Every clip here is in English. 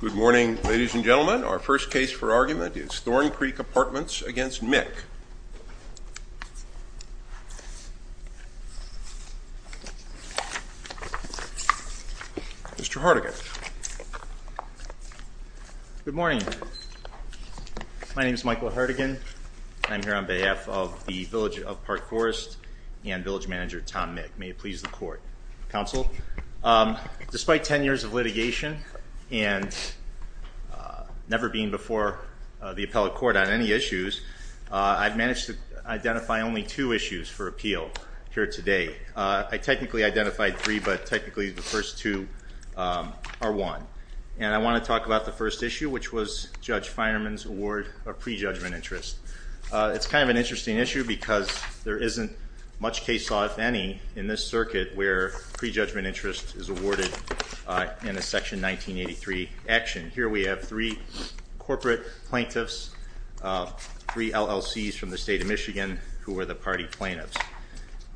Good morning ladies and gentlemen. Our first case for argument is Thorncreek Apartments against Mick. Mr. Hardigan. Good morning. My name is Michael Hardigan. I'm here on behalf of the Village of Park Forest and Village Manager Tom Mick. May it please the court. Counsel, despite 10 years of litigation and never being before the appellate court on any issues, I've managed to identify only two issues for appeal here today. I technically identified three, but technically the first two are one. And I want to talk about the first issue, which was Judge Feinerman's award of prejudgment interest. It's kind of an interesting issue because there isn't much case law, if any, in this circuit where prejudgment interest is awarded in a Section 1983 action. Here we have three corporate plaintiffs, three LLCs from the state of Michigan who were the party plaintiffs.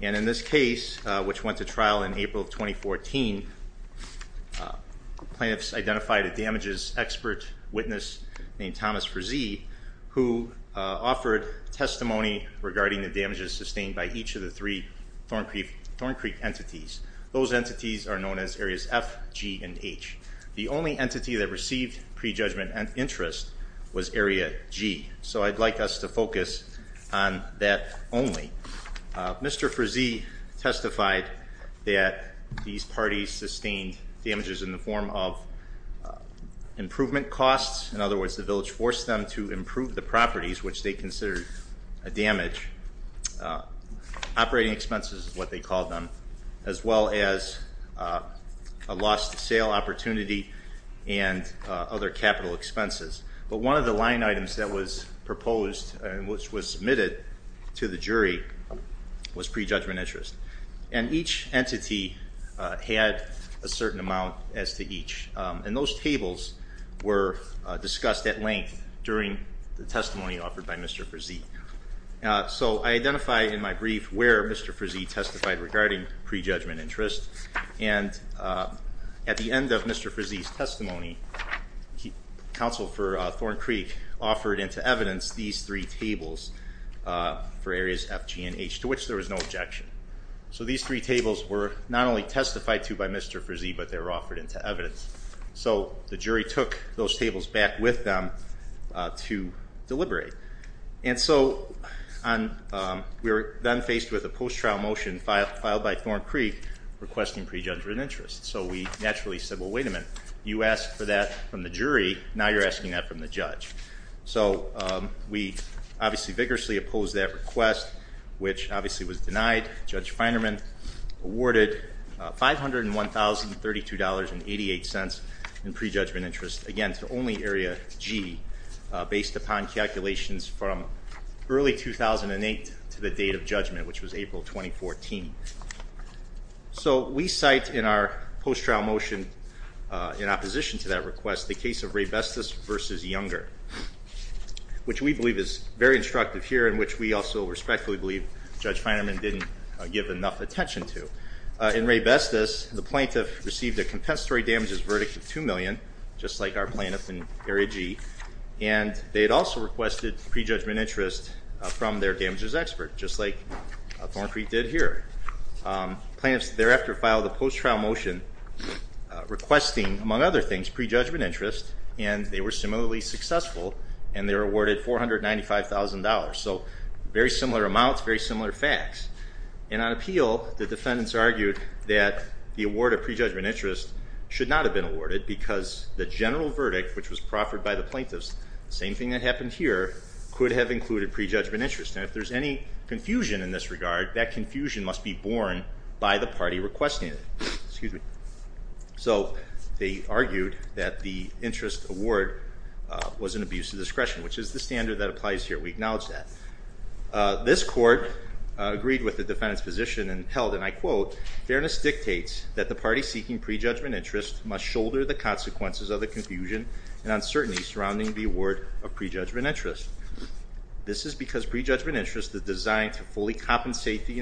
And in this case, which went to trial in April of 2014, plaintiffs identified a damages expert witness named Thomas Frizee, who offered testimony regarding the damages sustained by each of the three Thorncreek entities. Those entities are known as Areas F, G, and H. The only entity that received prejudgment interest was Area G. So I'd like us to focus on that only. Mr. Frizee testified that these parties sustained damages in the form of improvement costs, in other words, the village forced them to improve the properties which they considered a damage, operating expenses is what they called them, as well as a lost sale opportunity and other capital expenses. But one of the line items that was proposed, which was submitted to the jury, was prejudgment interest. And each entity had a certain amount as to each. And those tables were discussed at length during the testimony offered by Mr. Frizee. So I identify in my brief where Mr. Frizee testified regarding prejudgment interest, and at the end of Mr. Frizee's testimony, counsel for Thorncreek offered into evidence these three tables for Areas F, G, and H, to which there was no objection. So these three tables were not only testified to by Mr. Frizee, but they were offered into evidence. So the jury took those tables back with them to deliberate. And so we were then faced with a post-trial motion filed by Thorncreek requesting prejudgment interest. So we naturally said, well, wait a minute, you asked for that from the jury, now you're asking that from the judge. So we obviously vigorously opposed that request, which obviously was denied. Judge Feinerman awarded $501,032.88 in prejudgment interest, again, to only Area G, based upon calculations from early 2008 to the date of judgment, which was April 2014. So we cite in our post-trial motion in opposition to that request the case of Raybestos v. Younger, which we believe is very instructive here and which we also respectfully believe Judge Feinerman didn't give enough attention to. In Raybestos, the plaintiff received a compensatory damages verdict of $2 million, just like our plaintiff in Area G, and they had also requested prejudgment interest from their damages expert, just like Thorncreek did here. Plaintiffs thereafter filed a post-trial motion requesting, among other things, prejudgment interest, and they were similarly successful, and they were awarded $495,000. So very similar amounts, very similar facts. And on appeal, the defendants argued that the award of prejudgment interest should not have been awarded because the general verdict, which was proffered by the plaintiffs, the same thing that happened here, could have included prejudgment interest. And if there's any confusion in this regard, that confusion must be borne by the party requesting it. So they argued that the interest award was an abuse of discretion, which is the standard that applies here. We acknowledge that. This court agreed with the defendant's position and held, and I quote, fairness dictates that the party seeking prejudgment interest must shoulder the consequences of the confusion and uncertainty surrounding the award of prejudgment interest. This is because prejudgment interest is designed to fully compensate the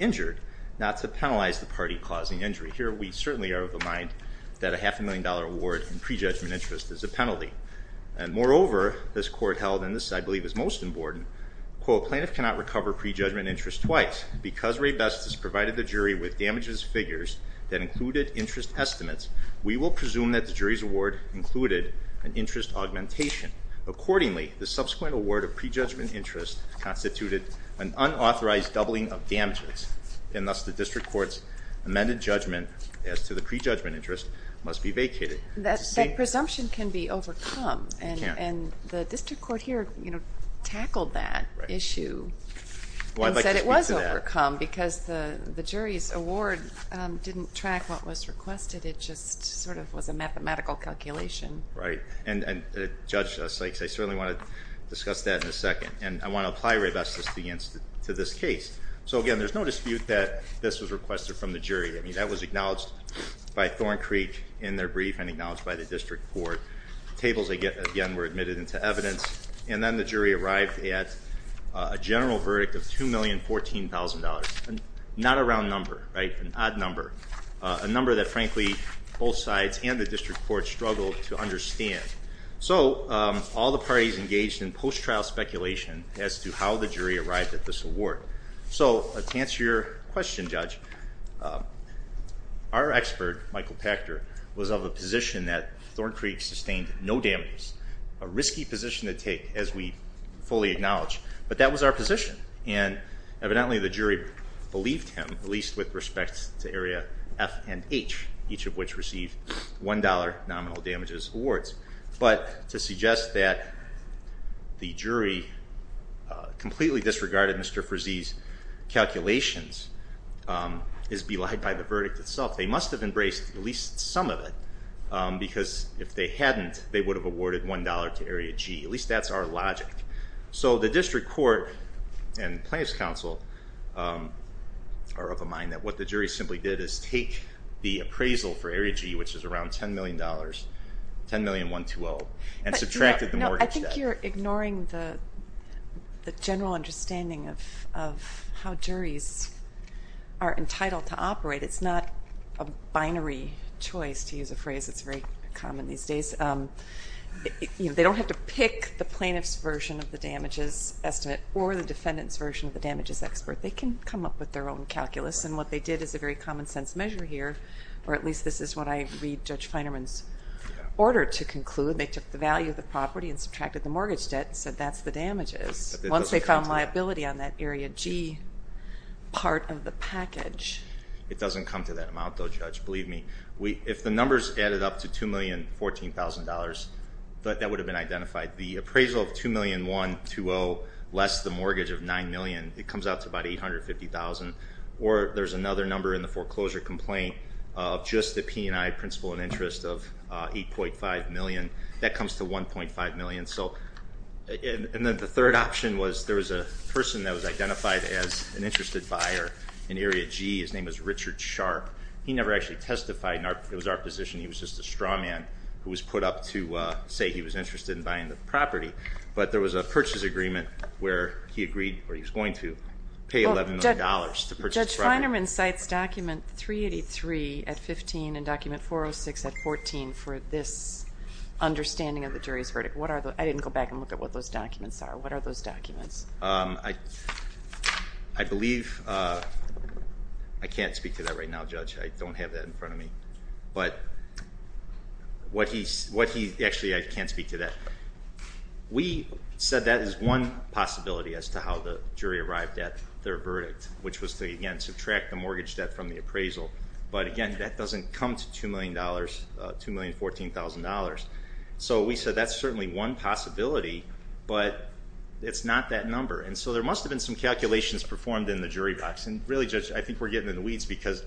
injured, not to penalize the party causing injury. Here we certainly are of the mind that a half a million dollar award in prejudgment interest is a penalty. And moreover, this court held, and this I believe is most important, quote, plaintiff cannot recover prejudgment interest twice. Because Ray Best has provided the jury with damages figures that included interest estimates, we will presume that the jury's award included an interest augmentation. Accordingly, the subsequent award of prejudgment interest constituted an unauthorized doubling of damages. And thus the district court's amended judgment as to the prejudgment interest must be vacated. That presumption can be overcome. And the district court here, you know, tackled that issue and said it was overcome because the jury's award didn't track what was requested. It just sort of was a mathematical calculation. Right. And Judge Sykes, I certainly want to discuss that in a second. And I want to apply Ray Best to this case. So again, there's no dispute that this was requested from the jury. I mean, that was acknowledged by Thorn Creek in their brief and acknowledged by the district court. Tables again were admitted into evidence. And then the jury arrived at a general verdict of $2,014,000. Not a round number, right? An odd number. A number that, frankly, both sides and the district court struggled to understand. So all the parties engaged in post-trial speculation as to how the jury arrived at this award. So to answer your question, Judge, our expert, Michael Pachter, was of a position that Thorn Creek sustained no damages. A risky position to take, as we fully acknowledge. But that was our position. And evidently, the jury believed him, at least with respect to Area F and H, each of which received $1 nominal damages awards. But to suggest that the jury completely disregarded Mr. Frazee's calculations is belied by the verdict itself. They must have embraced at least some of it because if they hadn't, they would have awarded $1 to Area G. At least that's our logic. So the district court and plaintiff's counsel are of a mind that what the jury simply did is take the appraisal for Area G, which is around $10,000,000, $10,000,000,120, and subtracted the mortgage debt. No, I think you're ignoring the general understanding of how juries are entitled to operate. It's not a binary choice, to use a phrase that's very common these days. They don't have to pick the plaintiff's version of the damages estimate or the defendant's version of the damages expert. They can come up with their own calculus. And what they did is a very common sense measure here, or at least this is what I read Judge Feinerman's order to conclude. They took the value of the property and subtracted the mortgage debt and said that's the damages. Once they found liability on that Area G part of the package. It doesn't come to that amount though, Judge, believe me. If the numbers added up to $2,014,000, that would have been identified. The appraisal of $2,001,200 less the mortgage of $9,000,000, it comes out to about $850,000. Or there's another number in the foreclosure complaint of just the P&I principal and interest of $8.5 million. That comes to $1.5 million. And the third option was there was a person that was identified as an interested buyer in Area G. His name was Richard Sharp. He never actually testified. It was our position he was just a straw man who was put up to say he was interested in buying the property. But there was a purchase agreement where he agreed, or he was going to, pay $11 million to purchase the property. Judge Feinerman cites document 383 at 15 and document 406 at 14 for this understanding of the jury's verdict. I didn't go back and look at what those documents are. What are those documents? I believe, I can't speak to that right now, Judge. I don't have that in front of me. But what he, actually I can't speak to that. We said that is one possibility as to how the jury arrived at their verdict, which was to again subtract the mortgage debt from the appraisal. But again, that doesn't come to $2 million, $2,014,000. So we said that's certainly one possibility, but it's not that number. And so there must have been some calculations performed in the jury box. And really, Judge, I think we're getting in the weeds because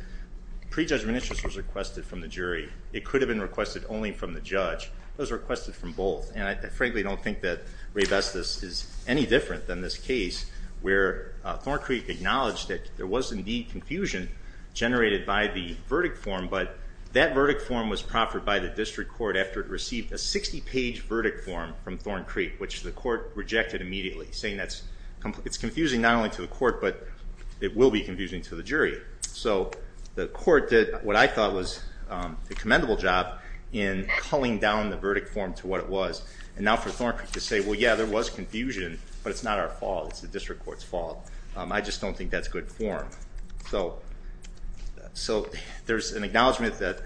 prejudgment interest was requested from the jury. It could have been requested only from the judge. It was requested from both. And I frankly don't think that Raybestos is any different than this case where Thorn Creek acknowledged that there was indeed confusion generated by the verdict form, but that verdict form was proffered by the district court after it received a 60-page verdict form from Thorn Creek, which the court rejected immediately, saying it's confusing not only to the court, but it will be confusing to the jury. So the court did what I thought was a commendable job in culling down the verdict form to what it was. And now for Thorn Creek to say, well, yeah, there was confusion, but it's not our fault. It's the district court's fault. I just don't think that's good form. So there's an acknowledgment that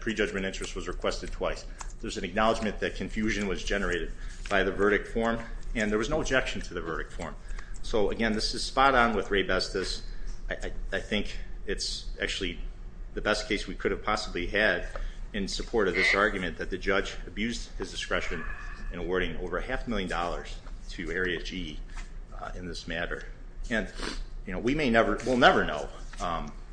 prejudgment interest was requested twice. There's an acknowledgment that confusion was generated by the verdict form, and there was no objection to the verdict form. So again, this is spot on with Raybestos. I think it's actually the best case we could have possibly had in support of this argument that the judge abused his discretion in awarding over a half a million dollars to Area G in this matter. And we may never, we'll never know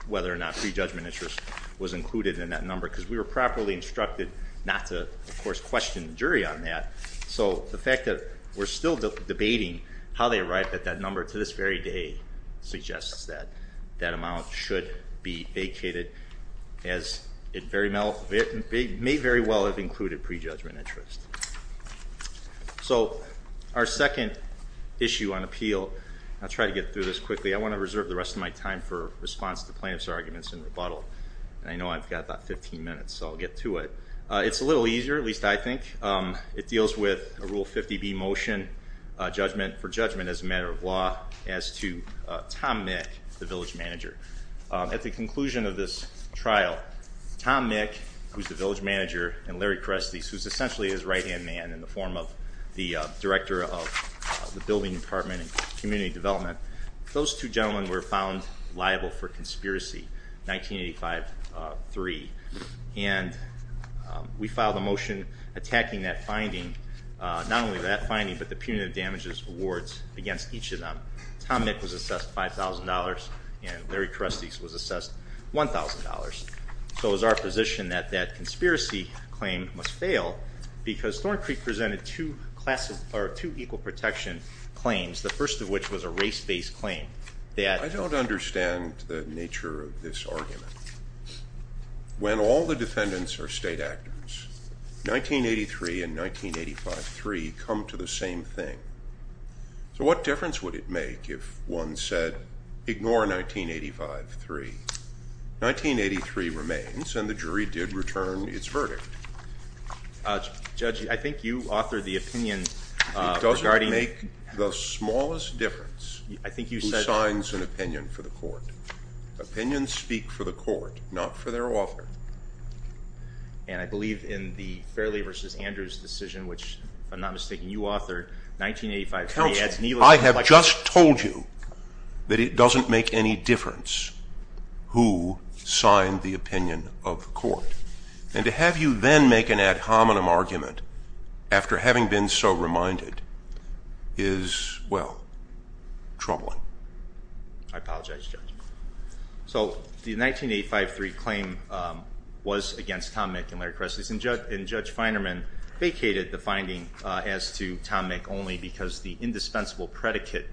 whether or not prejudgment interest was included in that number, because we were properly instructed not to, of course, question the jury on that. So the fact that we're still debating how they arrived at that number to this very day suggests that that amount should be vacated, as it may very well have been included prejudgment interest. So our second issue on appeal, I'll try to get through this quickly. I want to reserve the rest of my time for response to plaintiff's arguments and rebuttal. I know I've got about 15 minutes, so I'll get to it. It's a little easier, at least I think. It deals with a Rule 50b motion for judgment as a matter of law as to Tom Mick, the village manager. At the conclusion of this trial, Tom Mick, who's the village manager, and Larry Crestes, who's essentially his right-hand man in the form of the director of the building department and community development, those two gentlemen were found liable for conspiracy, 1985-3. And we filed a motion attacking that finding, not only that finding, but the punitive damages awards against each of them. Tom Mick was assessed $5,000, and that conspiracy claim must fail because Thorn Creek presented two equal protection claims, the first of which was a race-based claim. I don't understand the nature of this argument. When all the defendants are state actors, 1983 and 1985-3 come to the same thing. So what difference would it make if one said, ignore 1985-3? 1983 remains, and the jury did return its verdict. Judge, I think you authored the opinion regarding... It doesn't make the smallest difference who signs an opinion for the court. Opinions speak for the court, not for their author. And I believe in the Fairley v. Andrews decision, which if I'm not mistaken you authored, 1985-3 adds... Counsel, I have just told you that it doesn't make any difference who signed the opinion of the court. And to have you then make an ad hominem argument after having been so reminded is, well, troubling. I apologize, Judge. So the 1985-3 claim was against Tom Mick and Larry Kressley, and Judge Feinerman vacated the finding as to Tom Mick only because the indispensable predicate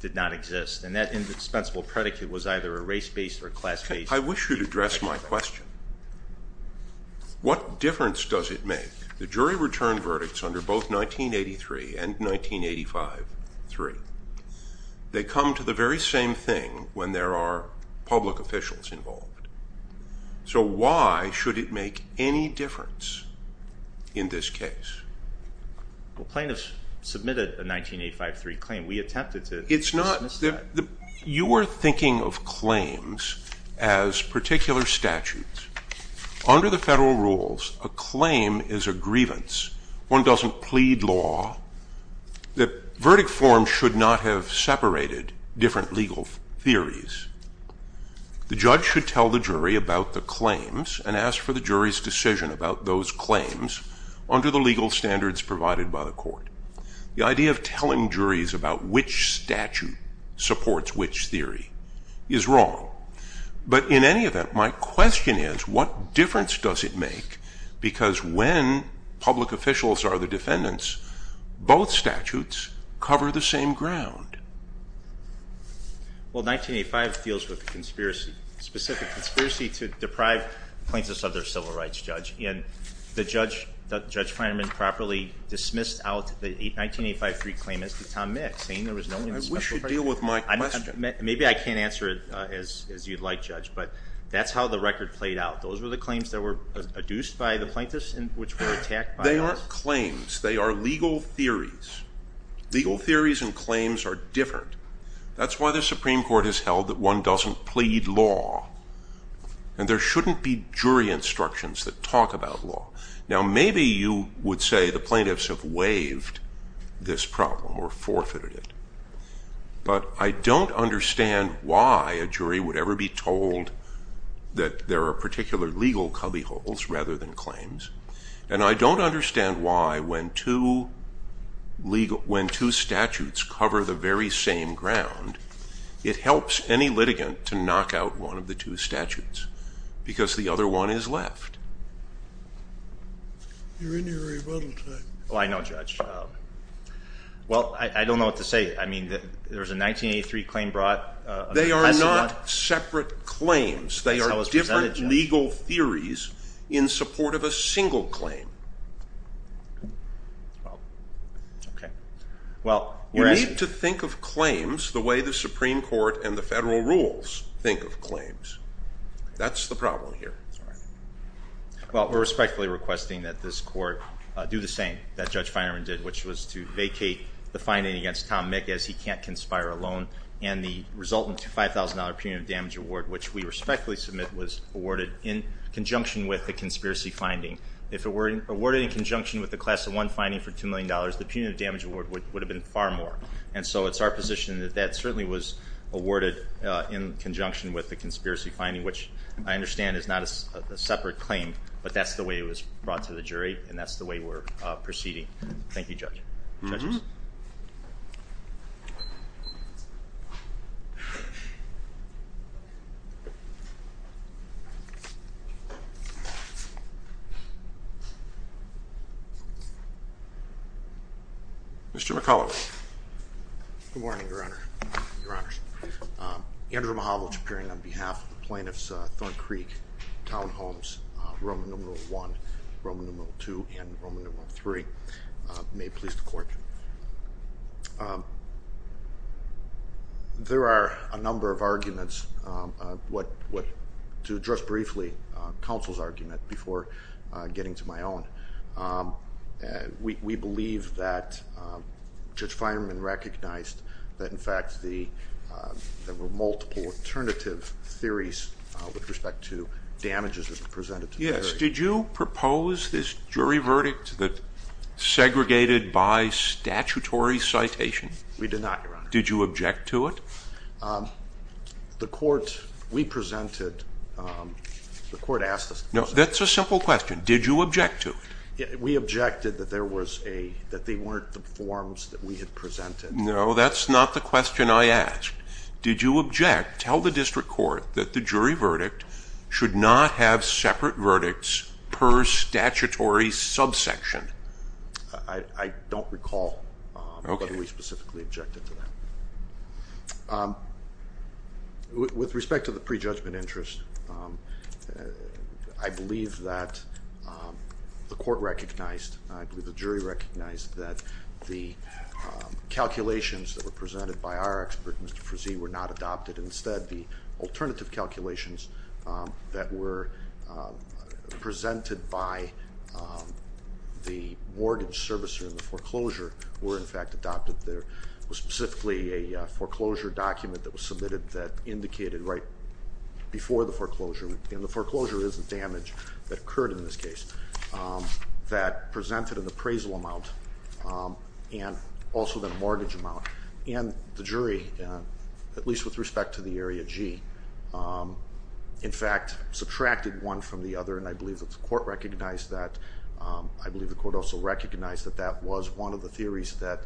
did not exist, and that indispensable predicate was either a race-based or class-based... I wish you'd address my question. What difference does it make? The jury returned verdicts under both 1983 and 1985-3. They come to the very same thing when there are public officials involved. So why should it make any difference in this case? Well, plaintiffs submitted a verdict. You are thinking of claims as particular statutes. Under the federal rules, a claim is a grievance. One doesn't plead law. The verdict form should not have separated different legal theories. The judge should tell the jury about the claims and ask for the jury's decision about those claims under the legal standards provided by the court. The idea of telling juries about which statute supports which theory is wrong. But in any event, my question is, what difference does it make? Because when public officials are the defendants, both statutes cover the same ground. Well, 1985 deals with conspiracy, specific conspiracy to deprive plaintiffs of their civil rights, Judge. And the judge, Judge Feinerman, properly dismissed out the 1985-3 claim as to Tom Mick, saying there was no... I wish you'd deal with my question. Maybe I can't answer it as you'd like, Judge, but that's how the record played out. Those were the claims that were adduced by the plaintiffs and which were attacked by us? They aren't claims. They are legal theories. Legal theories and claims are different. That's why the Supreme Court has held that one doesn't plead law. And there shouldn't be jury instructions that talk about law. Now, maybe you would say the plaintiffs have waived this problem or forfeited it. But I don't understand why a jury would ever be told that there are particular legal cubbyholes rather than claims. And I don't understand why when two statutes cover the very same ground, it helps any litigant to knock out one of the two statutes, because the other one is left. You're in your rebuttal time. Oh, I know, Judge. Well, I don't know what to say. I mean, there was a 1983 claim brought... They are not separate claims. They are different legal theories in support of a single claim. Well, okay. Well... You need to think of claims the way the Supreme Court and the federal rules think of claims. That's the problem here. Well, we're respectfully requesting that this Court do the same that Judge Feinerman did, which was to vacate the finding against Tom Mick as he can't conspire alone. And the resultant $5,000 punitive damage award, which we respectfully submit, was awarded in conjunction with the conspiracy finding. If it were awarded in conjunction with the Class I finding for $2 million, the punitive damage award would have been far more. And so it's our position that that certainly was awarded in conjunction with the conspiracy finding, which I understand is not a separate claim, but that's the way it was brought to the jury, and that's the way we're proceeding. Thank you, Judge. Judges? Mr. McCullough. Good morning, Your Honor. Your Honors. Andrew Mojavel-Chapurian on behalf of the plaintiffs, Thorn Creek, Town Homes, Roman numeral 1, Roman numeral 2, and Roman numeral 3. There are a number of arguments to address briefly, counsel's argument, before getting to my own. We believe that Judge Feinerman recognized that, in fact, there were multiple alternative theories with respect to damages that were presented to the jury. Yes. Did you propose this jury verdict that segregated by statutory citation? We did not, Your Honor. Did you object to it? The court, we presented, the court asked us to present it. No, that's a simple question. Did you object to it? We objected that there was a, that they weren't the forms that we had presented. No, that's not the question I asked. Did you object, tell the district court that the jury verdict should not have separate verdicts per statutory subsection? I don't recall whether we specifically objected to that. With respect to the prejudgment interest, I believe that the court recognized, I believe the jury recognized that the calculations that were presented by our expert, Mr. Frizee, were not adopted. Instead, the alternative calculations that were presented by the mortgage servicer in the foreclosure were in fact adopted. There was specifically a foreclosure document that was submitted that indicated right before the foreclosure, and the foreclosure is the damage that occurred in this case, that presented an appraisal amount and also the mortgage amount, and the jury, at least with respect to the area G, in fact subtracted one from the other, and I believe that the court recognized that. I believe the court also recognized that that was one of the theories that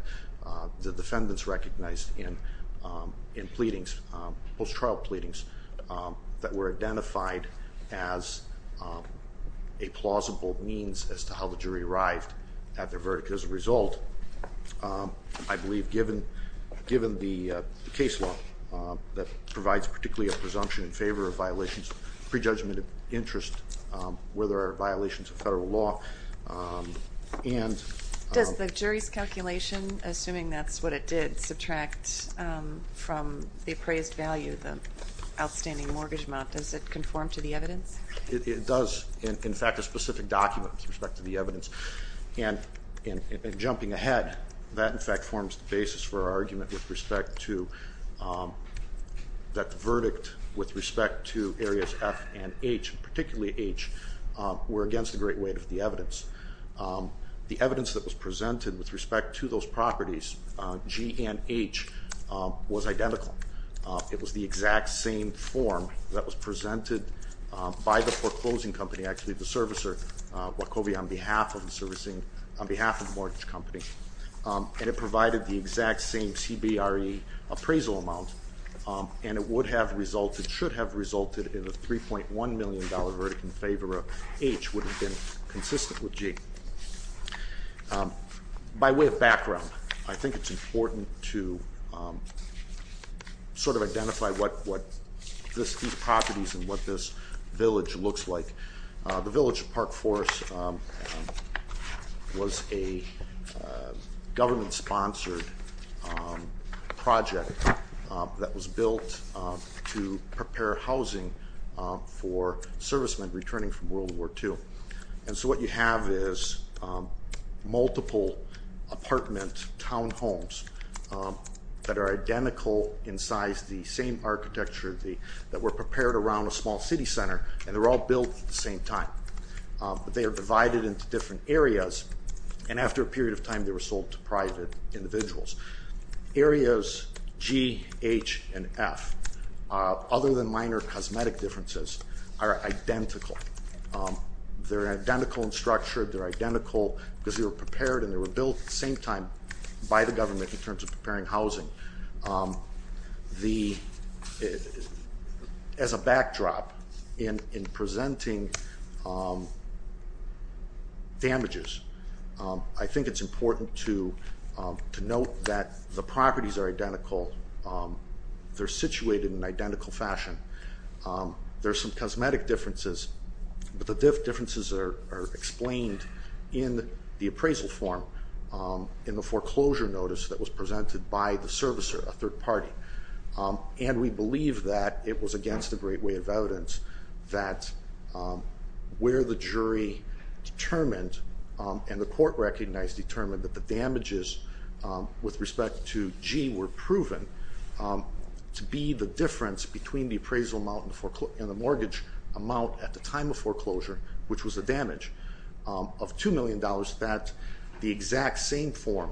the defendants recognized in pleadings, post-trial pleadings, that were identified as a plausible means as to how the jury arrived at their verdict. As a result, I believe given the case law that provides particularly a presumption in favor of violations of prejudgment of interest, whether there are violations of federal law, and... Does the jury's calculation, assuming that's what it did, subtract from the appraised value the outstanding mortgage amount? Does it conform to the evidence? It does, in fact a specific document with respect to the evidence, and jumping ahead, that in fact forms the basis for our argument with respect to that verdict with respect to areas F and H, particularly H, were against the great weight of the evidence. The evidence that was presented with respect to those properties, G and H, was identical. It was the exact same form that was presented by the foreclosing company, actually the servicer, Wachovia, on behalf of the servicing, on behalf of the mortgage company, and it provided the exact same CBRE appraisal amount, and it would have resulted, should have resulted in a $3.1 million verdict in favor of H would have been consistent with G. By way of background, I sort of identify what these properties and what this village looks like. The village of Park Forest was a government-sponsored project that was built to prepare housing for servicemen returning from World War II, and so what you have is multiple apartment townhomes that are identical in size, the same architecture, that were prepared around a small city center, and they're all built at the same time. But they are divided into different areas, and after a period of time they were sold to private individuals. Areas G, H, and F, other than minor cosmetic differences, are identical. They're identical in structure, they're identical because they were prepared and they were built at the same time by the government in terms of preparing housing. As a backdrop in presenting damages, I think it's important to note that the properties are identical. They're situated in an identical fashion. There are some cosmetic differences, but the differences are explained in the appraisal form in the foreclosure notice that was presented by the servicer, a third party, and we believe that it was against the great way of evidence that where the jury determined and the court recognized determined that the damages with respect to G were proven to be the difference between the appraisal amount and the mortgage amount at the time of foreclosure, which was a damage of $2 million, that the exact same form,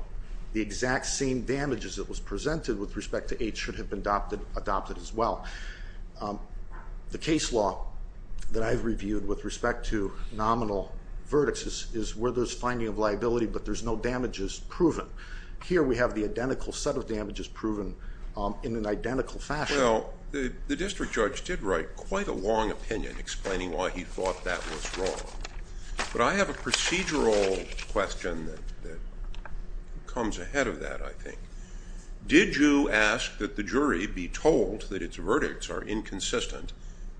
the exact same damages that was presented with respect to H should have been adopted as well. The case law that I've reviewed with respect to nominal verdicts is where there's finding of liability, but there's no damages proven. Here we have the identical set of damages proven in an identical fashion. Well, the district judge did write quite a long opinion explaining why he thought that was wrong, but I have a procedural question that comes ahead of that, I think. Did you ask that the jury be told that its verdicts are inconsistent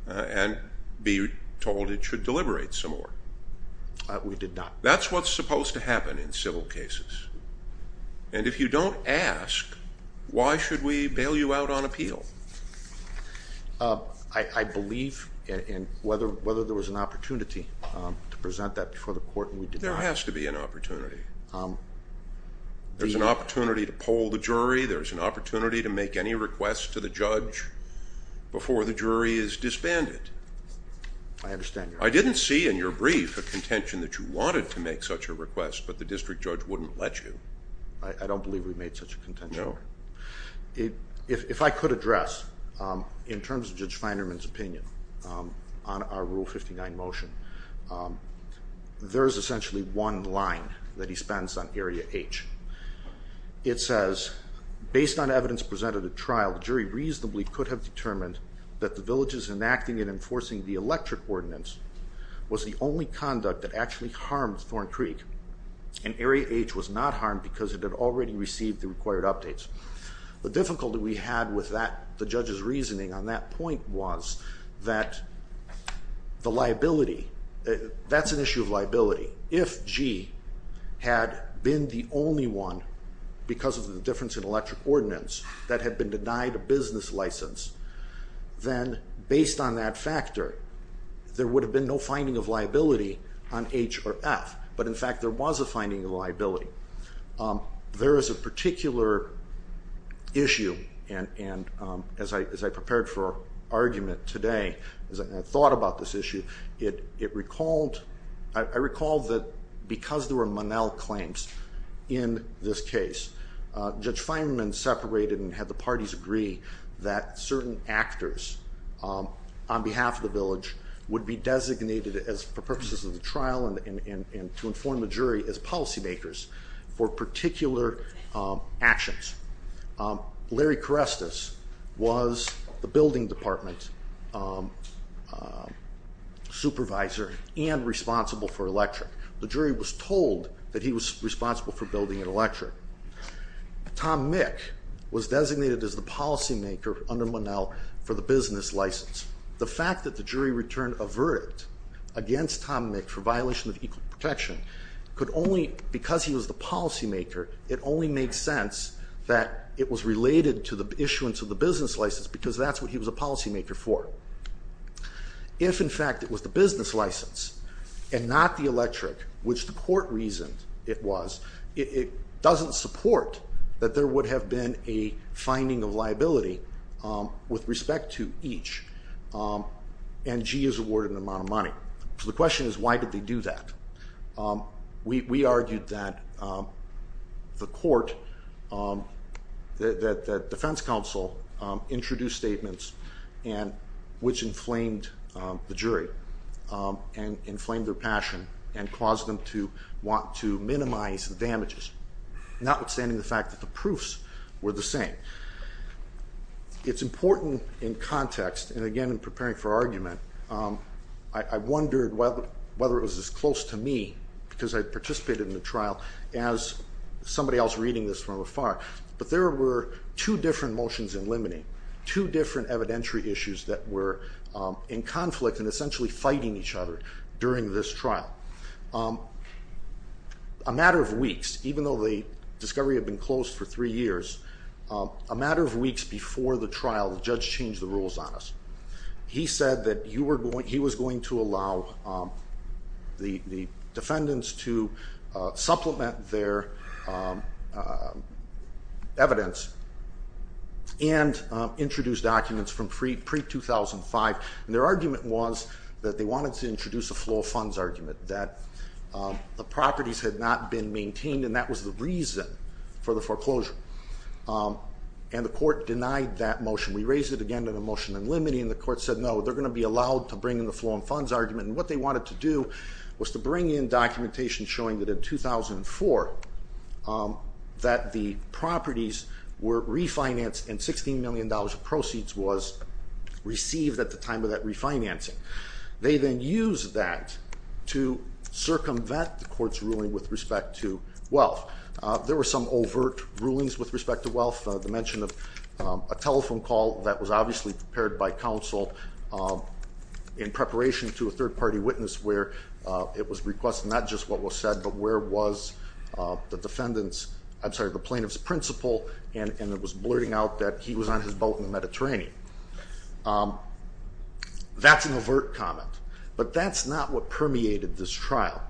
and be told it should deliberate some more? We did not. That's what's supposed to happen in civil cases, and if you don't ask, why should we bail you out on appeal? I believe in whether there was an opportunity to present that before the court, and we did not. There has to be an opportunity. There's an opportunity to poll the jury, there's an opportunity to make any requests to the judge before the jury is disbanded. I understand your point. I didn't see in your brief a contention that you wanted to make such a request, but the district judge wouldn't let you. I don't believe we made such a contention. No. If I could address, in terms of Judge Feinerman's opinion on our Rule 59 motion, there's essentially one line that he spends on Area H. It says based on evidence presented at trial, the jury reasonably could have determined that the villages enacting and enforcing the electric ordinance was the only conduct that actually harmed Thorn Creek, and Area H was not harmed because it had already received the required updates. The difficulty we had with that, the judge's reasoning on that point was that the liability, that's an issue of liability. If G had been the only one because of the difference in electric ordinance that had been denied a business license, then based on that factor, there would have been no finding of liability on H or F, but in fact there was a finding of liability. There is a particular issue, and as I prepared for our argument today, as I thought about this issue, I recalled that because there were Monell claims in this case, Judge Feinerman separated and had the parties agree that certain actors on behalf of the village would be designated for purposes of the trial and to inform the jury as policy makers for particular actions. Larry Karestas was the building department supervisor and responsible for electric. The jury was told that he was responsible for building and electric. Tom Mick was designated as the policy maker under Monell for the business license. The fact that the jury returned a verdict against Tom Mick for violation of equal protection could only, because he was the policy maker, it only makes sense that it was related to the issuance of the business license because that's what he was a policy maker for. If, in fact, it was the business license and not the electric, which the court reasoned it was, it doesn't support that there would have been a finding of liability with respect to each, and G is awarded an amount of money. So the question is why did they do that? We argued that the court, that the defense counsel introduced statements and which inflamed the jury and inflamed their passion and caused them to want to minimize the damages, notwithstanding the fact that the proofs were the same. It's important in context, and again in preparing for argument, I wondered whether it was as close to me because I participated in the trial as somebody else reading this from afar, but there were two different motions in limine, two different evidentiary issues that were in conflict and essentially fighting each other during this trial. A matter of weeks, even though the discovery had been closed for three years, a matter of weeks before the trial the judge changed the rules on us. He said that he was going to allow the defendants to supplement their evidence and introduce documents from pre-2005, and their argument was that they wanted to introduce a flow of funds argument, that the properties had not been maintained and that was the reason for the foreclosure, and the court denied that motion. We raised it again in a motion in limine and the court said no, they're going to be allowed to bring in the flow of funds argument, and what they wanted to do was to bring in documentation showing that in 2004 that the properties were refinanced and $16 million of proceeds was received at the time of that refinancing. They then used that to circumvent the court's ruling with respect to wealth. There were some overt rulings with respect to wealth, the mention of a telephone call that was obviously prepared by counsel in preparation to a third trial, where the plaintiff's principal was blurting out that he was on his boat in the Mediterranean. That's an overt comment, but that's not what permeated this trial.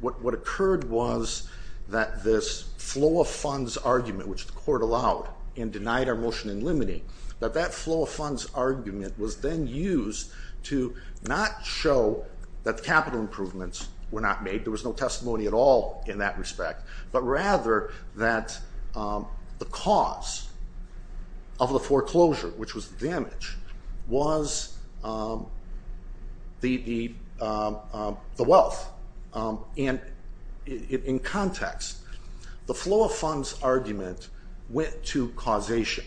What occurred was that this flow of funds argument, which the court allowed and denied our motion in limine, that that flow of funds argument was then used to not show that capital improvements were not made, there was no testimony at all in that respect, but rather that the cause of the foreclosure, which was the damage, was the wealth. In context, the flow of funds argument went to causation.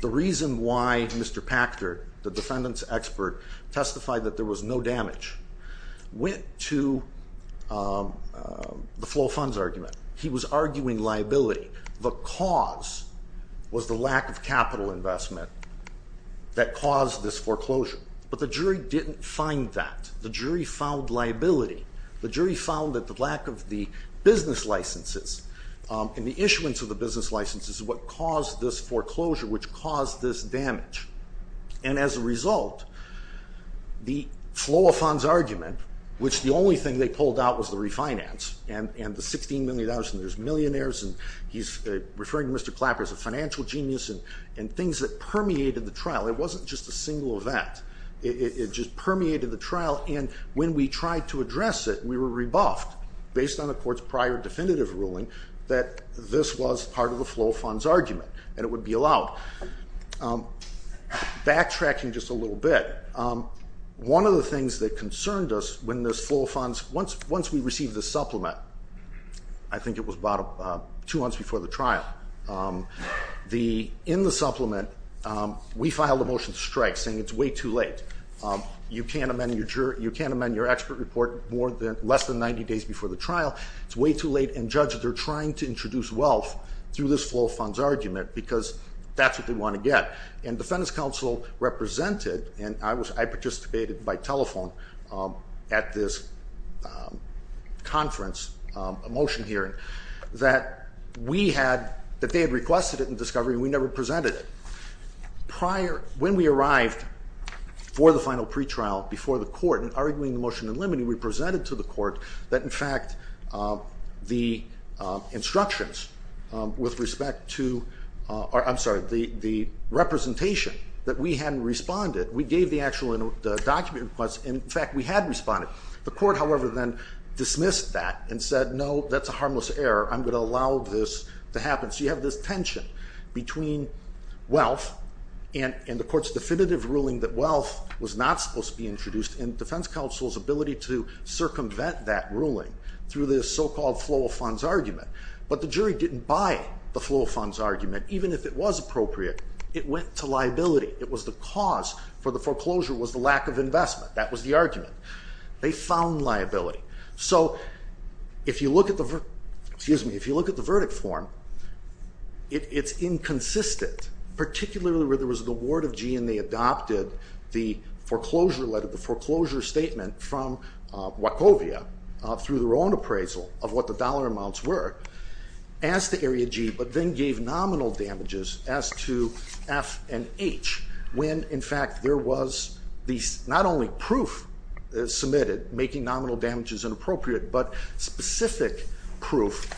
The reason why Mr. Packard, the defendant's expert, testified that there was no damage, went to the flow of funds argument. He was arguing liability. The cause was the lack of capital investment that caused this foreclosure, but the jury didn't find that. The jury found liability. The jury found that the lack of the business licenses and the issuance of the business licenses is what caused this foreclosure, which caused this damage. As a result, the flow of funds argument, which the only thing they pulled out was the refinance and the $16 million, and there's millionaires, and he's referring to Mr. Clapper as a financial genius, and things that permeated the trial. It wasn't just a single event. It just permeated the trial, and when we tried to address it, we were rebuffed based on the court's prior definitive ruling that this was part of the trial. Backtracking just a little bit, one of the things that concerned us when this flow of funds, once we received the supplement, I think it was about two months before the trial, in the supplement, we filed a motion to strike saying it's way too late. You can't amend your expert report less than 90 days before the trial. It's way too late, and judge says they're trying to introduce wealth through this flow of funds argument because that's what they want to get. Defendant's counsel represented, and I participated by telephone at this conference, a motion hearing, that we had, that they had requested it in discovery and we never presented it. Prior, when we arrived for the final pretrial before the court, that in fact the instructions with respect to, I'm sorry, the representation that we hadn't responded, we gave the actual document request, and in fact we had responded. The court, however, then dismissed that and said no, that's a harmless error. I'm going to allow this to happen. So you have this tension between wealth and the court's definitive ruling that wealth was not supposed to be introduced and defense counsel's ability to circumvent that ruling through this so-called flow of funds argument, but the jury didn't buy the flow of funds argument, even if it was appropriate. It went to liability. It was the cause for the foreclosure was the lack of investment. That was the argument. They found liability. So if you look at the verdict form, it's inconsistent, particularly where there was an award of G and they adopted the foreclosure letter, the foreclosure statement from Wachovia through their own appraisal of what the dollar amounts were as to Area G, but then gave nominal damages as to F and H, when in fact there was not only proof submitted making nominal damages inappropriate, but specific proof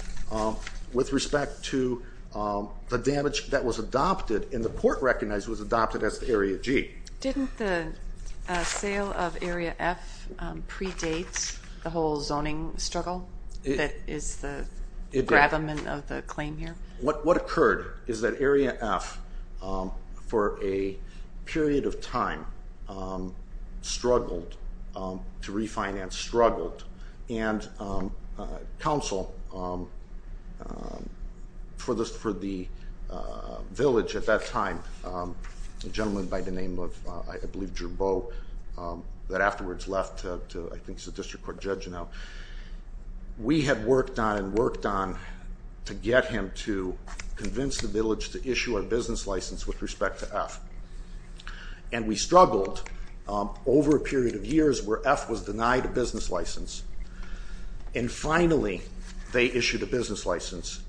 with respect to the damage that was adopted and the court recognized was adopted as the Area G. Didn't the sale of Area F predate the whole zoning struggle that is the gravamen of the claim here? What occurred is that Area F for a period of time struggled to refinance, struggled, and counsel for the village at that time, a gentleman by the name of, I believe, Jermboe that afterwards left to, I think he's a district court judge now. We had worked on and worked on to get him to convince the village to issue a business license with respect to F, and we struggled over a period of years where F was denied a business license, and finally they issued a business license,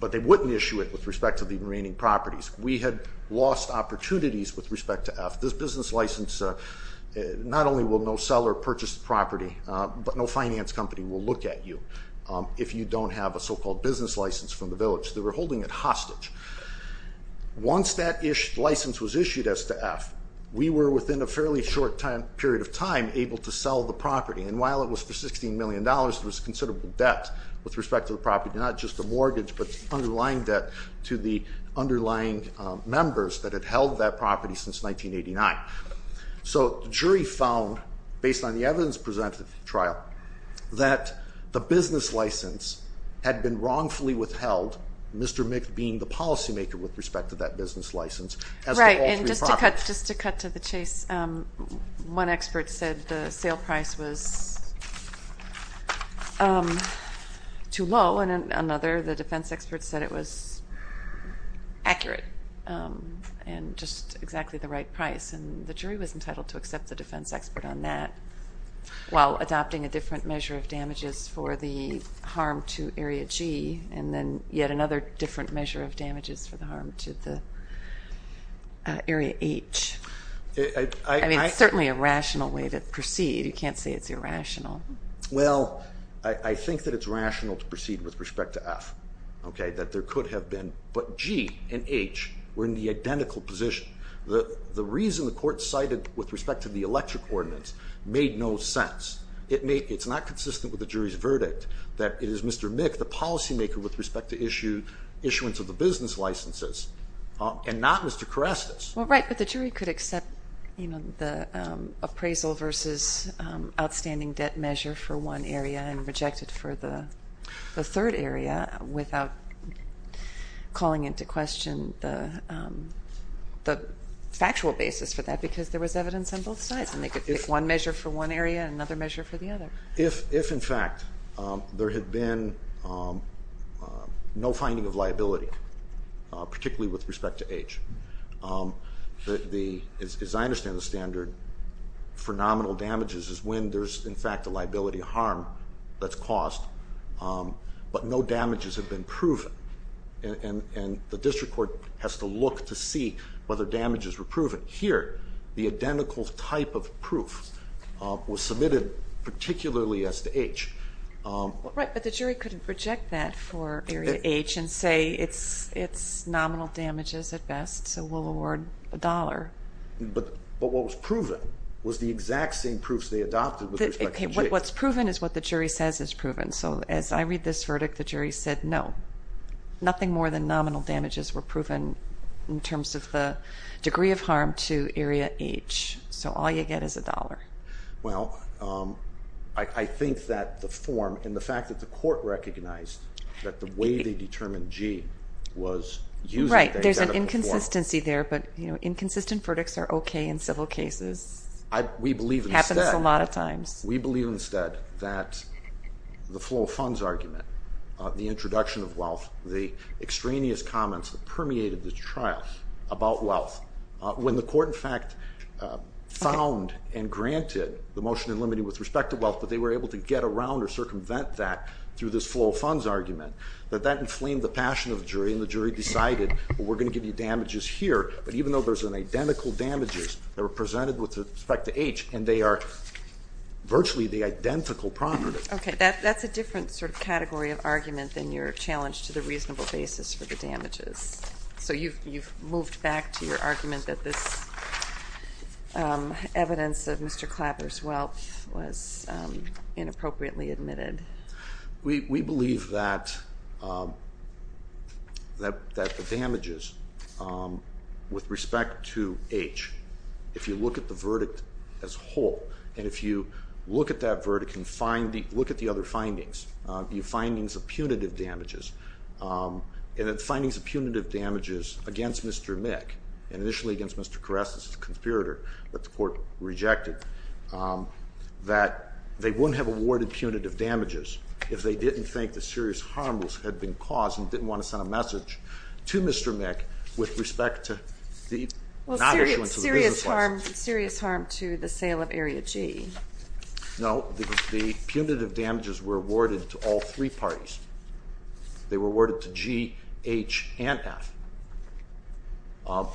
but they wouldn't issue it with respect to the remaining properties. We had lost opportunities with respect to F. This business license not only will no seller purchase the property, but no finance company will look at you if you don't have a so-called business license from the village. They were holding it hostage. Once that license was issued as to F, we were within a fairly short period of time able to sell the property, and while it was for $16 million, there was considerable debt with respect to the property, not just the mortgage, but underlying debt to the underlying members that had held that property since 1989. So the jury found, based on the evidence presented at the trial, that the business license had been wrongfully withheld, Mr. Mick being the policymaker with respect to that business license, as to all three properties. Right, and just to cut to the chase, one expert said the sale price was too low, and another, the defense expert, said it was accurate and just exactly the right price, and the jury was entitled to accept the defense expert on that, while adopting a different measure of damages for the harm to Area G, and then yet another different measure of damages for the harm to the Area H. I mean, it's certainly a rational way to proceed. You can't say it's irrational. Well, I think that it's rational to proceed with respect to F, that there could have been, but G and H were in the identical position. The reason the court cited with respect to the electric ordinance made no sense. It's not consistent with the jury's verdict that it is Mr. Mick, the policymaker, with respect to issuance of the business licenses, and not Mr. Karestas. Well, right, but the jury could accept the appraisal versus outstanding debt measure for one area and reject it for the third area without calling into question the factual basis for that, because there was evidence on both sides, and they could pick one measure for one area and another measure for the other. If in fact there had been no finding of liability, particularly with respect to H, as I understand it, for nominal damages is when there's in fact a liability harm that's caused, but no damages have been proven, and the district court has to look to see whether damages were proven. Here, the identical type of proof was submitted particularly as to H. Right, but the jury couldn't reject that for Area H and say it's nominal damages at best, so we'll award a dollar. But what was proven was the exact same proofs they adopted with respect to G. What's proven is what the jury says is proven, so as I read this verdict, the jury said no. Nothing more than nominal damages were proven in terms of the degree of harm to Area H, so all you get is a dollar. Well, I think that the form, and the fact that the court recognized that the way they determined G was using the identical form. Consistency there, but inconsistent verdicts are okay in civil cases. We believe instead that the flow of funds argument, the introduction of wealth, the extraneous comments that permeated the trial about wealth, when the court in fact found and granted the motion in limiting with respect to wealth, but they were able to get around or circumvent that through this flow of funds argument, that that inflamed the passion of the jury decided, well, we're going to give you damages here, but even though there's an identical damages that were presented with respect to H, and they are virtually the identical properties. Okay, that's a different sort of category of argument than your challenge to the reasonable basis for the damages. So you've moved back to your argument that this evidence of Mr. Clapper's wealth was inappropriately admitted. We believe that the damages with respect to H, if you look at the verdict as a whole, and if you look at that verdict and look at the other findings, the findings of punitive damages, and the findings of punitive damages against Mr. Mick, and initially against Mr. Karestas, the conspirator that the court rejected, that they wouldn't have awarded punitive damages if they didn't think the serious harm had been caused and didn't want to send a message to Mr. Mick with respect to the not issuing to the business class. Well, serious harm to the sale of Area G. No, because the punitive damages were awarded to all three parties. They were awarded to G, H, and F.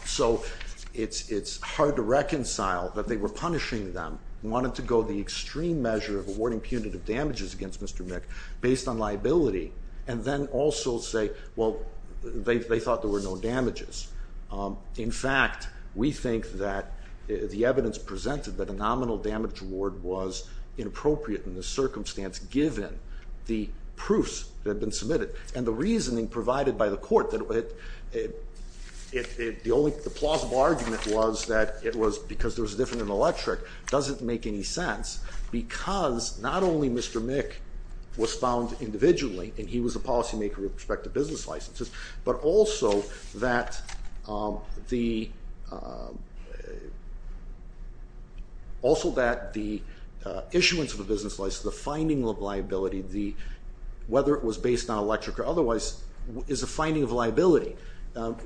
So it's hard to reconcile that they were punishing them, wanted to go the extreme measure of awarding punitive damages against Mr. Mick based on liability, and then also say, well, they thought there were no damages. In fact, we think that the evidence presented that a nominal damage award was inappropriate in this circumstance given the proofs that had been submitted and the reasoning provided by the court that it, the only, the plausible argument was that it was because there was a difference in electric doesn't make any sense because not only Mr. Mick was found individually, and he was a policymaker with respect to business licenses, but also that the, also that the issuance of a business license, the finding of liability, the, whether it was based on electric or otherwise is a finding of liability,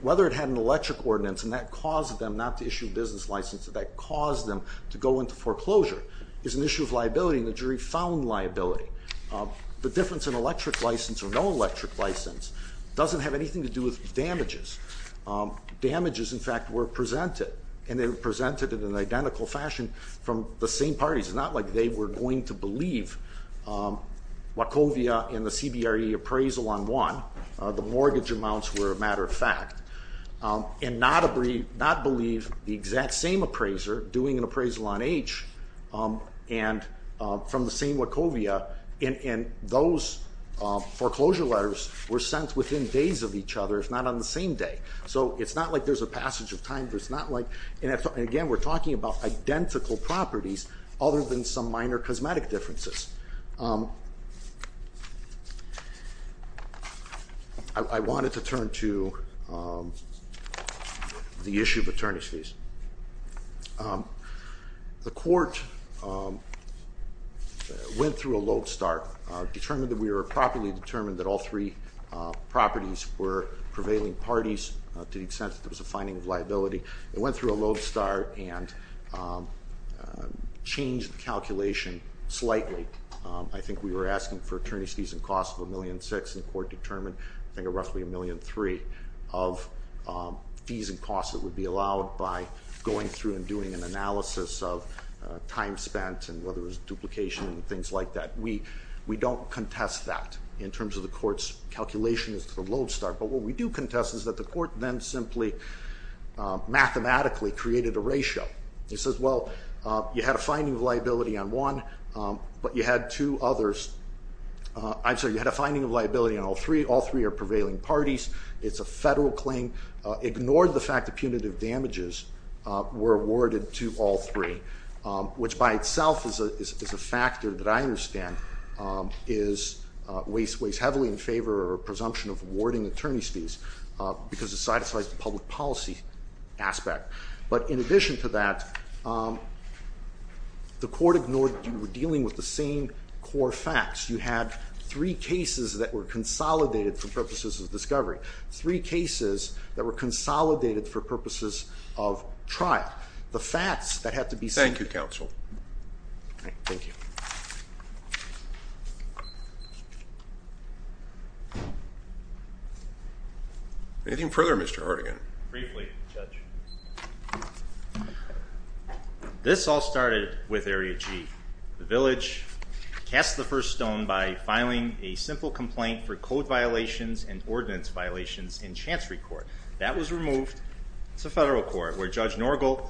whether it had an electric ordinance, and that caused them not to issue business licenses, that caused them to go into foreclosure, is an issue of liability, and the jury found liability. The difference in electric license or no electric license doesn't have anything to do with damages. Damages in fact were presented, and they were presented in an identical fashion from the same parties. It's not like they were going to believe Wachovia in the CBRE appraisal on one, the mortgage amounts were a matter of fact, and not believe the exact same appraiser doing an appraisal on H, and from the same Wachovia, and those foreclosure letters were sent within days of each other, if not on the same day. So it's not like there's a passage of time, it's not like, and again we're talking about identical properties other than some minor cosmetic differences. I wanted to turn to the issue of attorney's fees. The court went through a load start, determined that we were properly determined that all three properties were prevailing parties to the extent that there was a finding of liability. It went through a load start and changed the calculation slightly. I think we were asking for attorney's fees and costs of $1.6 million, and the court determined I think it was roughly $1.3 million of fees and costs that would be allowed by going through and doing an analysis of time spent and whether it was duplication and things like that. We don't contest that in terms of the court's calculation as to the load start, but what we do contest is that the court then simply mathematically created a ratio. It says, well, you had a finding of liability on one, but you had two others, I'm sorry, you had a finding of liability on all three, all three are prevailing parties, it's a federal claim, ignored the fact that punitive damages were awarded to all three, which by itself is a factor that I understand weighs heavily in favor or presumption of awarding attorney's fees, because it satisfies the public policy aspect. But in addition to that, the court ignored that you were dealing with the same core facts. You had three cases that were consolidated for purposes of discovery. Three cases that were consolidated for purposes of trial. The facts that had to be seen. Thank you, counsel. Thank you. Anything further, Mr. Hardigan? Briefly, Judge. This all started with Area G. The village cast the first stone by filing a simple complaint for code violations and ordinance violations in Chancery Court. That was removed. It's a federal court, where Judge Norgal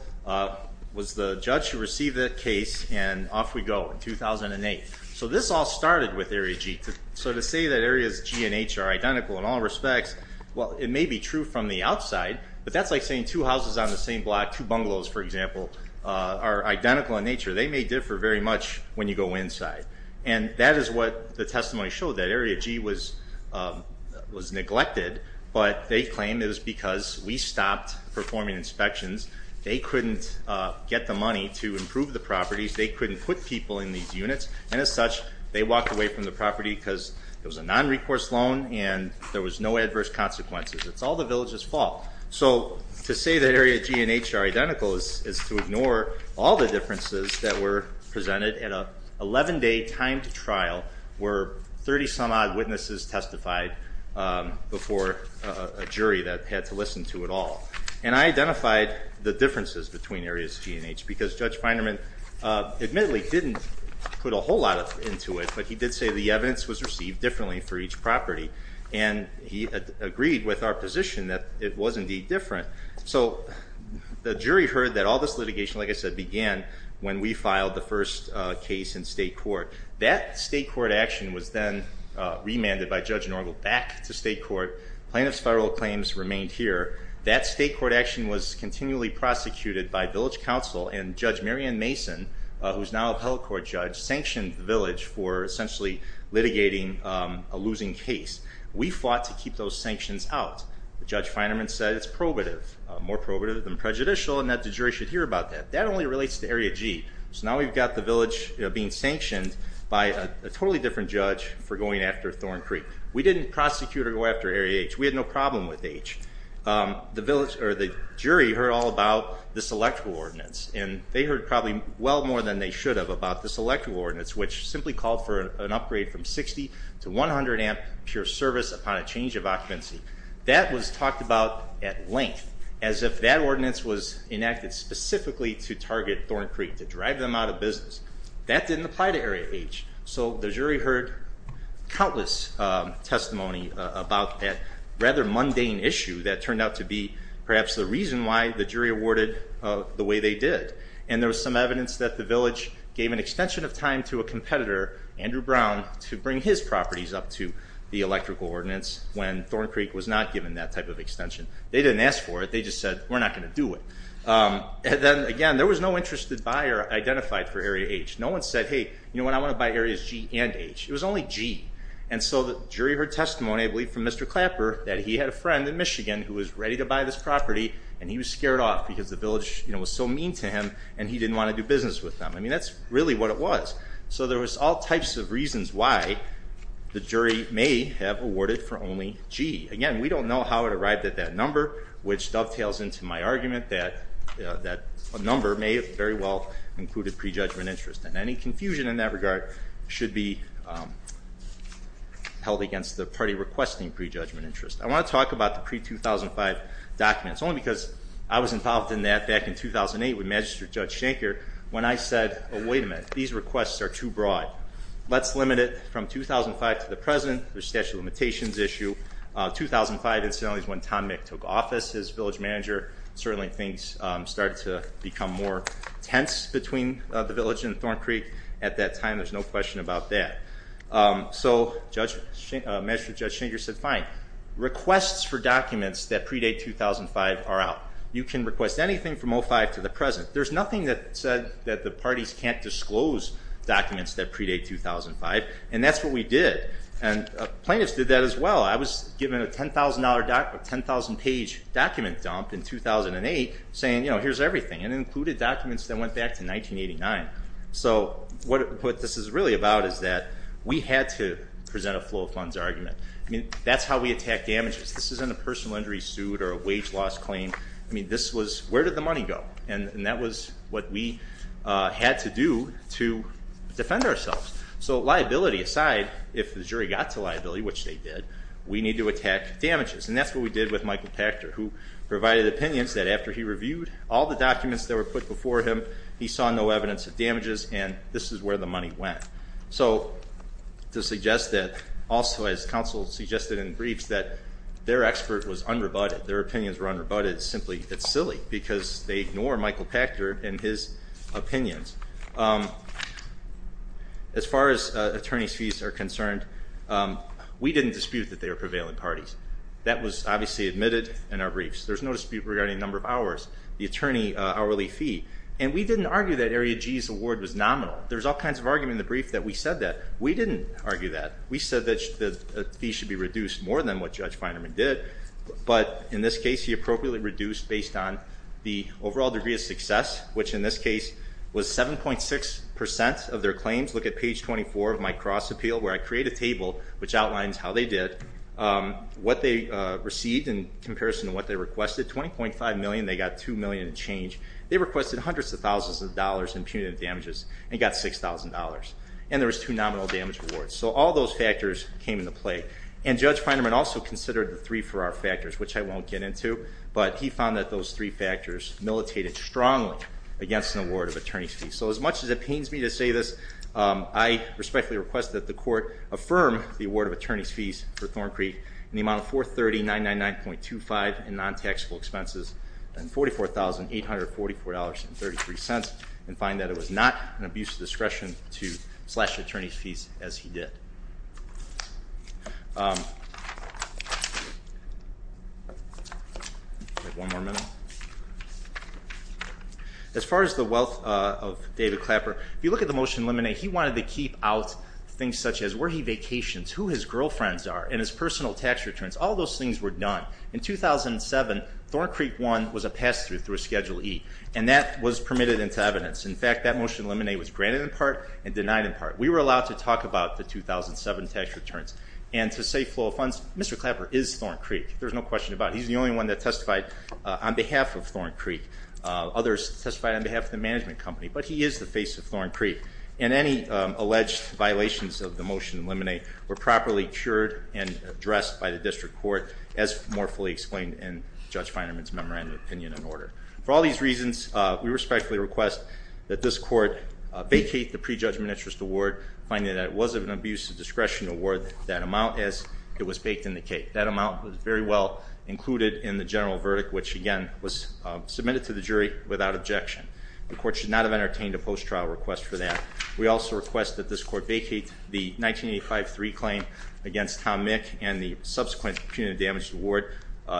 was the judge who received that case, and off we go in 2008. So this all started with Area G. So to say that Areas G and H are identical in all respects, well, it may be true from the outside, but that's like saying two houses on the same block, two bungalows, for example, are identical in nature. They may differ very much when you go inside. And that is what the testimony showed, that Area G was neglected, but they claimed it was because we stopped performing inspections. They couldn't get the money to improve the properties. They couldn't put people in these units, and as such, they walked away from the property because it was a non-recourse loan and there was no adverse consequences. It's all the village's fault. So to say that Area G and H are identical is to ignore all the differences that were presented at an 11-day time to trial, where 30-some-odd witnesses testified before a jury that had to listen to it all. And I identified the differences between Areas G and H because Judge Feinerman admittedly didn't put a whole lot into it, but he did say the evidence was received differently for each property, and he agreed with our position that it was indeed different. So the jury heard that all this litigation, like I said, began when we filed the first case in state court. That state court action was then remanded by Judge Norgal back to state court. Plaintiffs' federal claims remained here. That state court action was continually prosecuted by village counsel, and Judge Marion Mason, who's now a appellate court judge, sanctioned the village for essentially litigating a losing case. We fought to keep those sanctions out. Judge Feinerman said it's probative, more probative than prejudicial, and that the jury should hear about that. That only relates to Area G. So now we've got the village being sanctioned by a totally different judge for going after Thorn Creek. We didn't prosecute or go after Area H. We had no problem with H. The jury heard all about this electoral ordinance, and they heard probably well more than they should have about this electoral ordinance, which simply called for an upgrade from 60 to 100 amp pure service upon a change of occupancy. That was talked about at length, as if that ordinance was enacted specifically to target Thorn Creek, to drive them out of business. That didn't apply to Area H. So the jury heard countless testimony about that rather mundane issue that turned out to be perhaps the reason why the jury awarded the way they did, and there was some evidence that the village gave an extension of time to a competitor, Andrew Brown, to bring his properties up to the electrical ordinance when Thorn Creek was not given that type of extension. They didn't ask for it. They just said, we're not going to do it. And then, again, there was no interested buyer identified for Area H. No one said, hey, you know what? I want to buy Areas G and H. It was only G. And so the jury heard testimony, I believe, from Mr. Clapper that he had a friend in Michigan who was ready to buy this property, and he was scared off because the village was so mean to him, and he didn't want to do business with them. I mean, that's really what it was. So there was all types of reasons why the jury may have awarded for only G. Again, we don't know how it arrived at that number, which dovetails into my argument that a number may have very well included prejudgment interest. And any confusion in that regard should be held against the party requesting prejudgment interest. I want to talk about the pre-2005 documents, only because I was involved in that back in 2008 with Magistrate Judge Schenker when I said, oh, wait a minute. These requests are too broad. Let's limit it from 2005 to the present, the statute of limitations issue. 2005, incidentally, is when Tom Mick took office. As village manager, certainly things started to become more tense between the village and Thorn Creek at that time. There's no question about that. So Magistrate Judge Schenker said, fine, requests for documents that predate 2005 are out. You can request anything from 2005 to the present. There's nothing that said that the parties can't disclose documents that predate 2005, and that's what we did. And plaintiffs did that as well. I was given a $10,000 document, a 10,000-page document dump in 2008 saying, you know, here's everything, and it included documents that went back to 1989. So what this is really about is that we had to present a flow of funds argument. That's how we attack damages. This isn't a personal injury suit or a wage loss claim. This was, where did the money go? And that was what we had to do to defend ourselves. So liability aside, if the jury got to liability, which they did, we need to attack damages. And that's what we did with Michael Pachter, who provided opinions that after he reviewed all the documents that were put before him, he saw no evidence of damages, and this is where the money went. So to suggest that also, as counsel suggested in briefs, that their expert was unrebutted, their opinions were unrebutted, simply it's silly because they ignore Michael Pachter and his opinions. As far as attorney's fees are concerned, we didn't dispute that they were prevailing parties. That was obviously admitted in our briefs. There's no dispute regarding number of hours, the attorney hourly fee, and we didn't argue that Area G's award was nominal. There's all kinds of argument in the brief that we said that. We didn't argue that. We said that the fee should be reduced more than what Judge Feinerman did, but in this case, he appropriately reduced based on the overall degree of success, which in this case was 7.6% of their claims. Look at page 24 of my cross appeal where I create a table which outlines how they did, what they received in comparison to what they requested, 20.5 million, they got 2 million in change. They requested hundreds of thousands of dollars in punitive damages and got $6,000. And there was two nominal damage awards. So all those factors came into play. And Judge Feinerman also considered the three Farrar factors, which I won't get into, but he found that those three factors militated strongly against an award of attorney's fees. So as much as it pains me to say this, I respectfully request that the court affirm the award of attorney's fees for Thorn Creek in the amount of $430,999.25 in non-taxable expenses and $44,844.33 and find that it was not an abuse of discretion to slash the attorney's fees as he did. One more minute. As far as the wealth of David Clapper, if you look at the motion to eliminate, he wanted to keep out things such as where he vacations, who his girlfriends are, and his personal tax returns. All those things were done. In 2007, Thorn Creek 1 was a pass-through through Schedule E, and that was permitted into evidence. We were allowed to talk about the 2007 tax returns, and to say flow of funds, Mr. Clapper is Thorn Creek. There's no question about it. He's the only one that testified on behalf of Thorn Creek. Others testified on behalf of the management company, but he is the face of Thorn Creek. And any alleged violations of the motion to eliminate were properly cured and addressed by the district court, as more fully explained in Judge Feinerman's memorandum of opinion and order. For all these reasons, we respectfully request that this court vacate the prejudgment interest award, finding that it was of an abuse of discretion award, that amount, as it was baked in the cake. That amount was very well included in the general verdict, which, again, was submitted to the jury without objection. The court should not have entertained a post-trial request for that. We also request that this court vacate the 1985-3 claim against Tom Mick and the subsequent punitive damage award.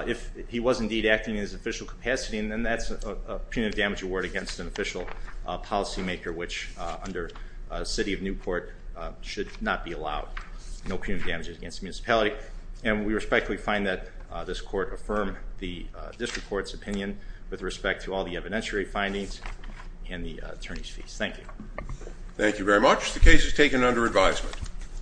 If he was indeed acting in his official capacity, then that's a punitive damage award against an official policymaker, which, under the city of Newport, should not be allowed, no punitive damages against the municipality. And we respectfully find that this court affirmed the district court's opinion with respect to all the evidentiary findings and the attorney's fees. Thank you. Thank you very much. The case is taken under advisement.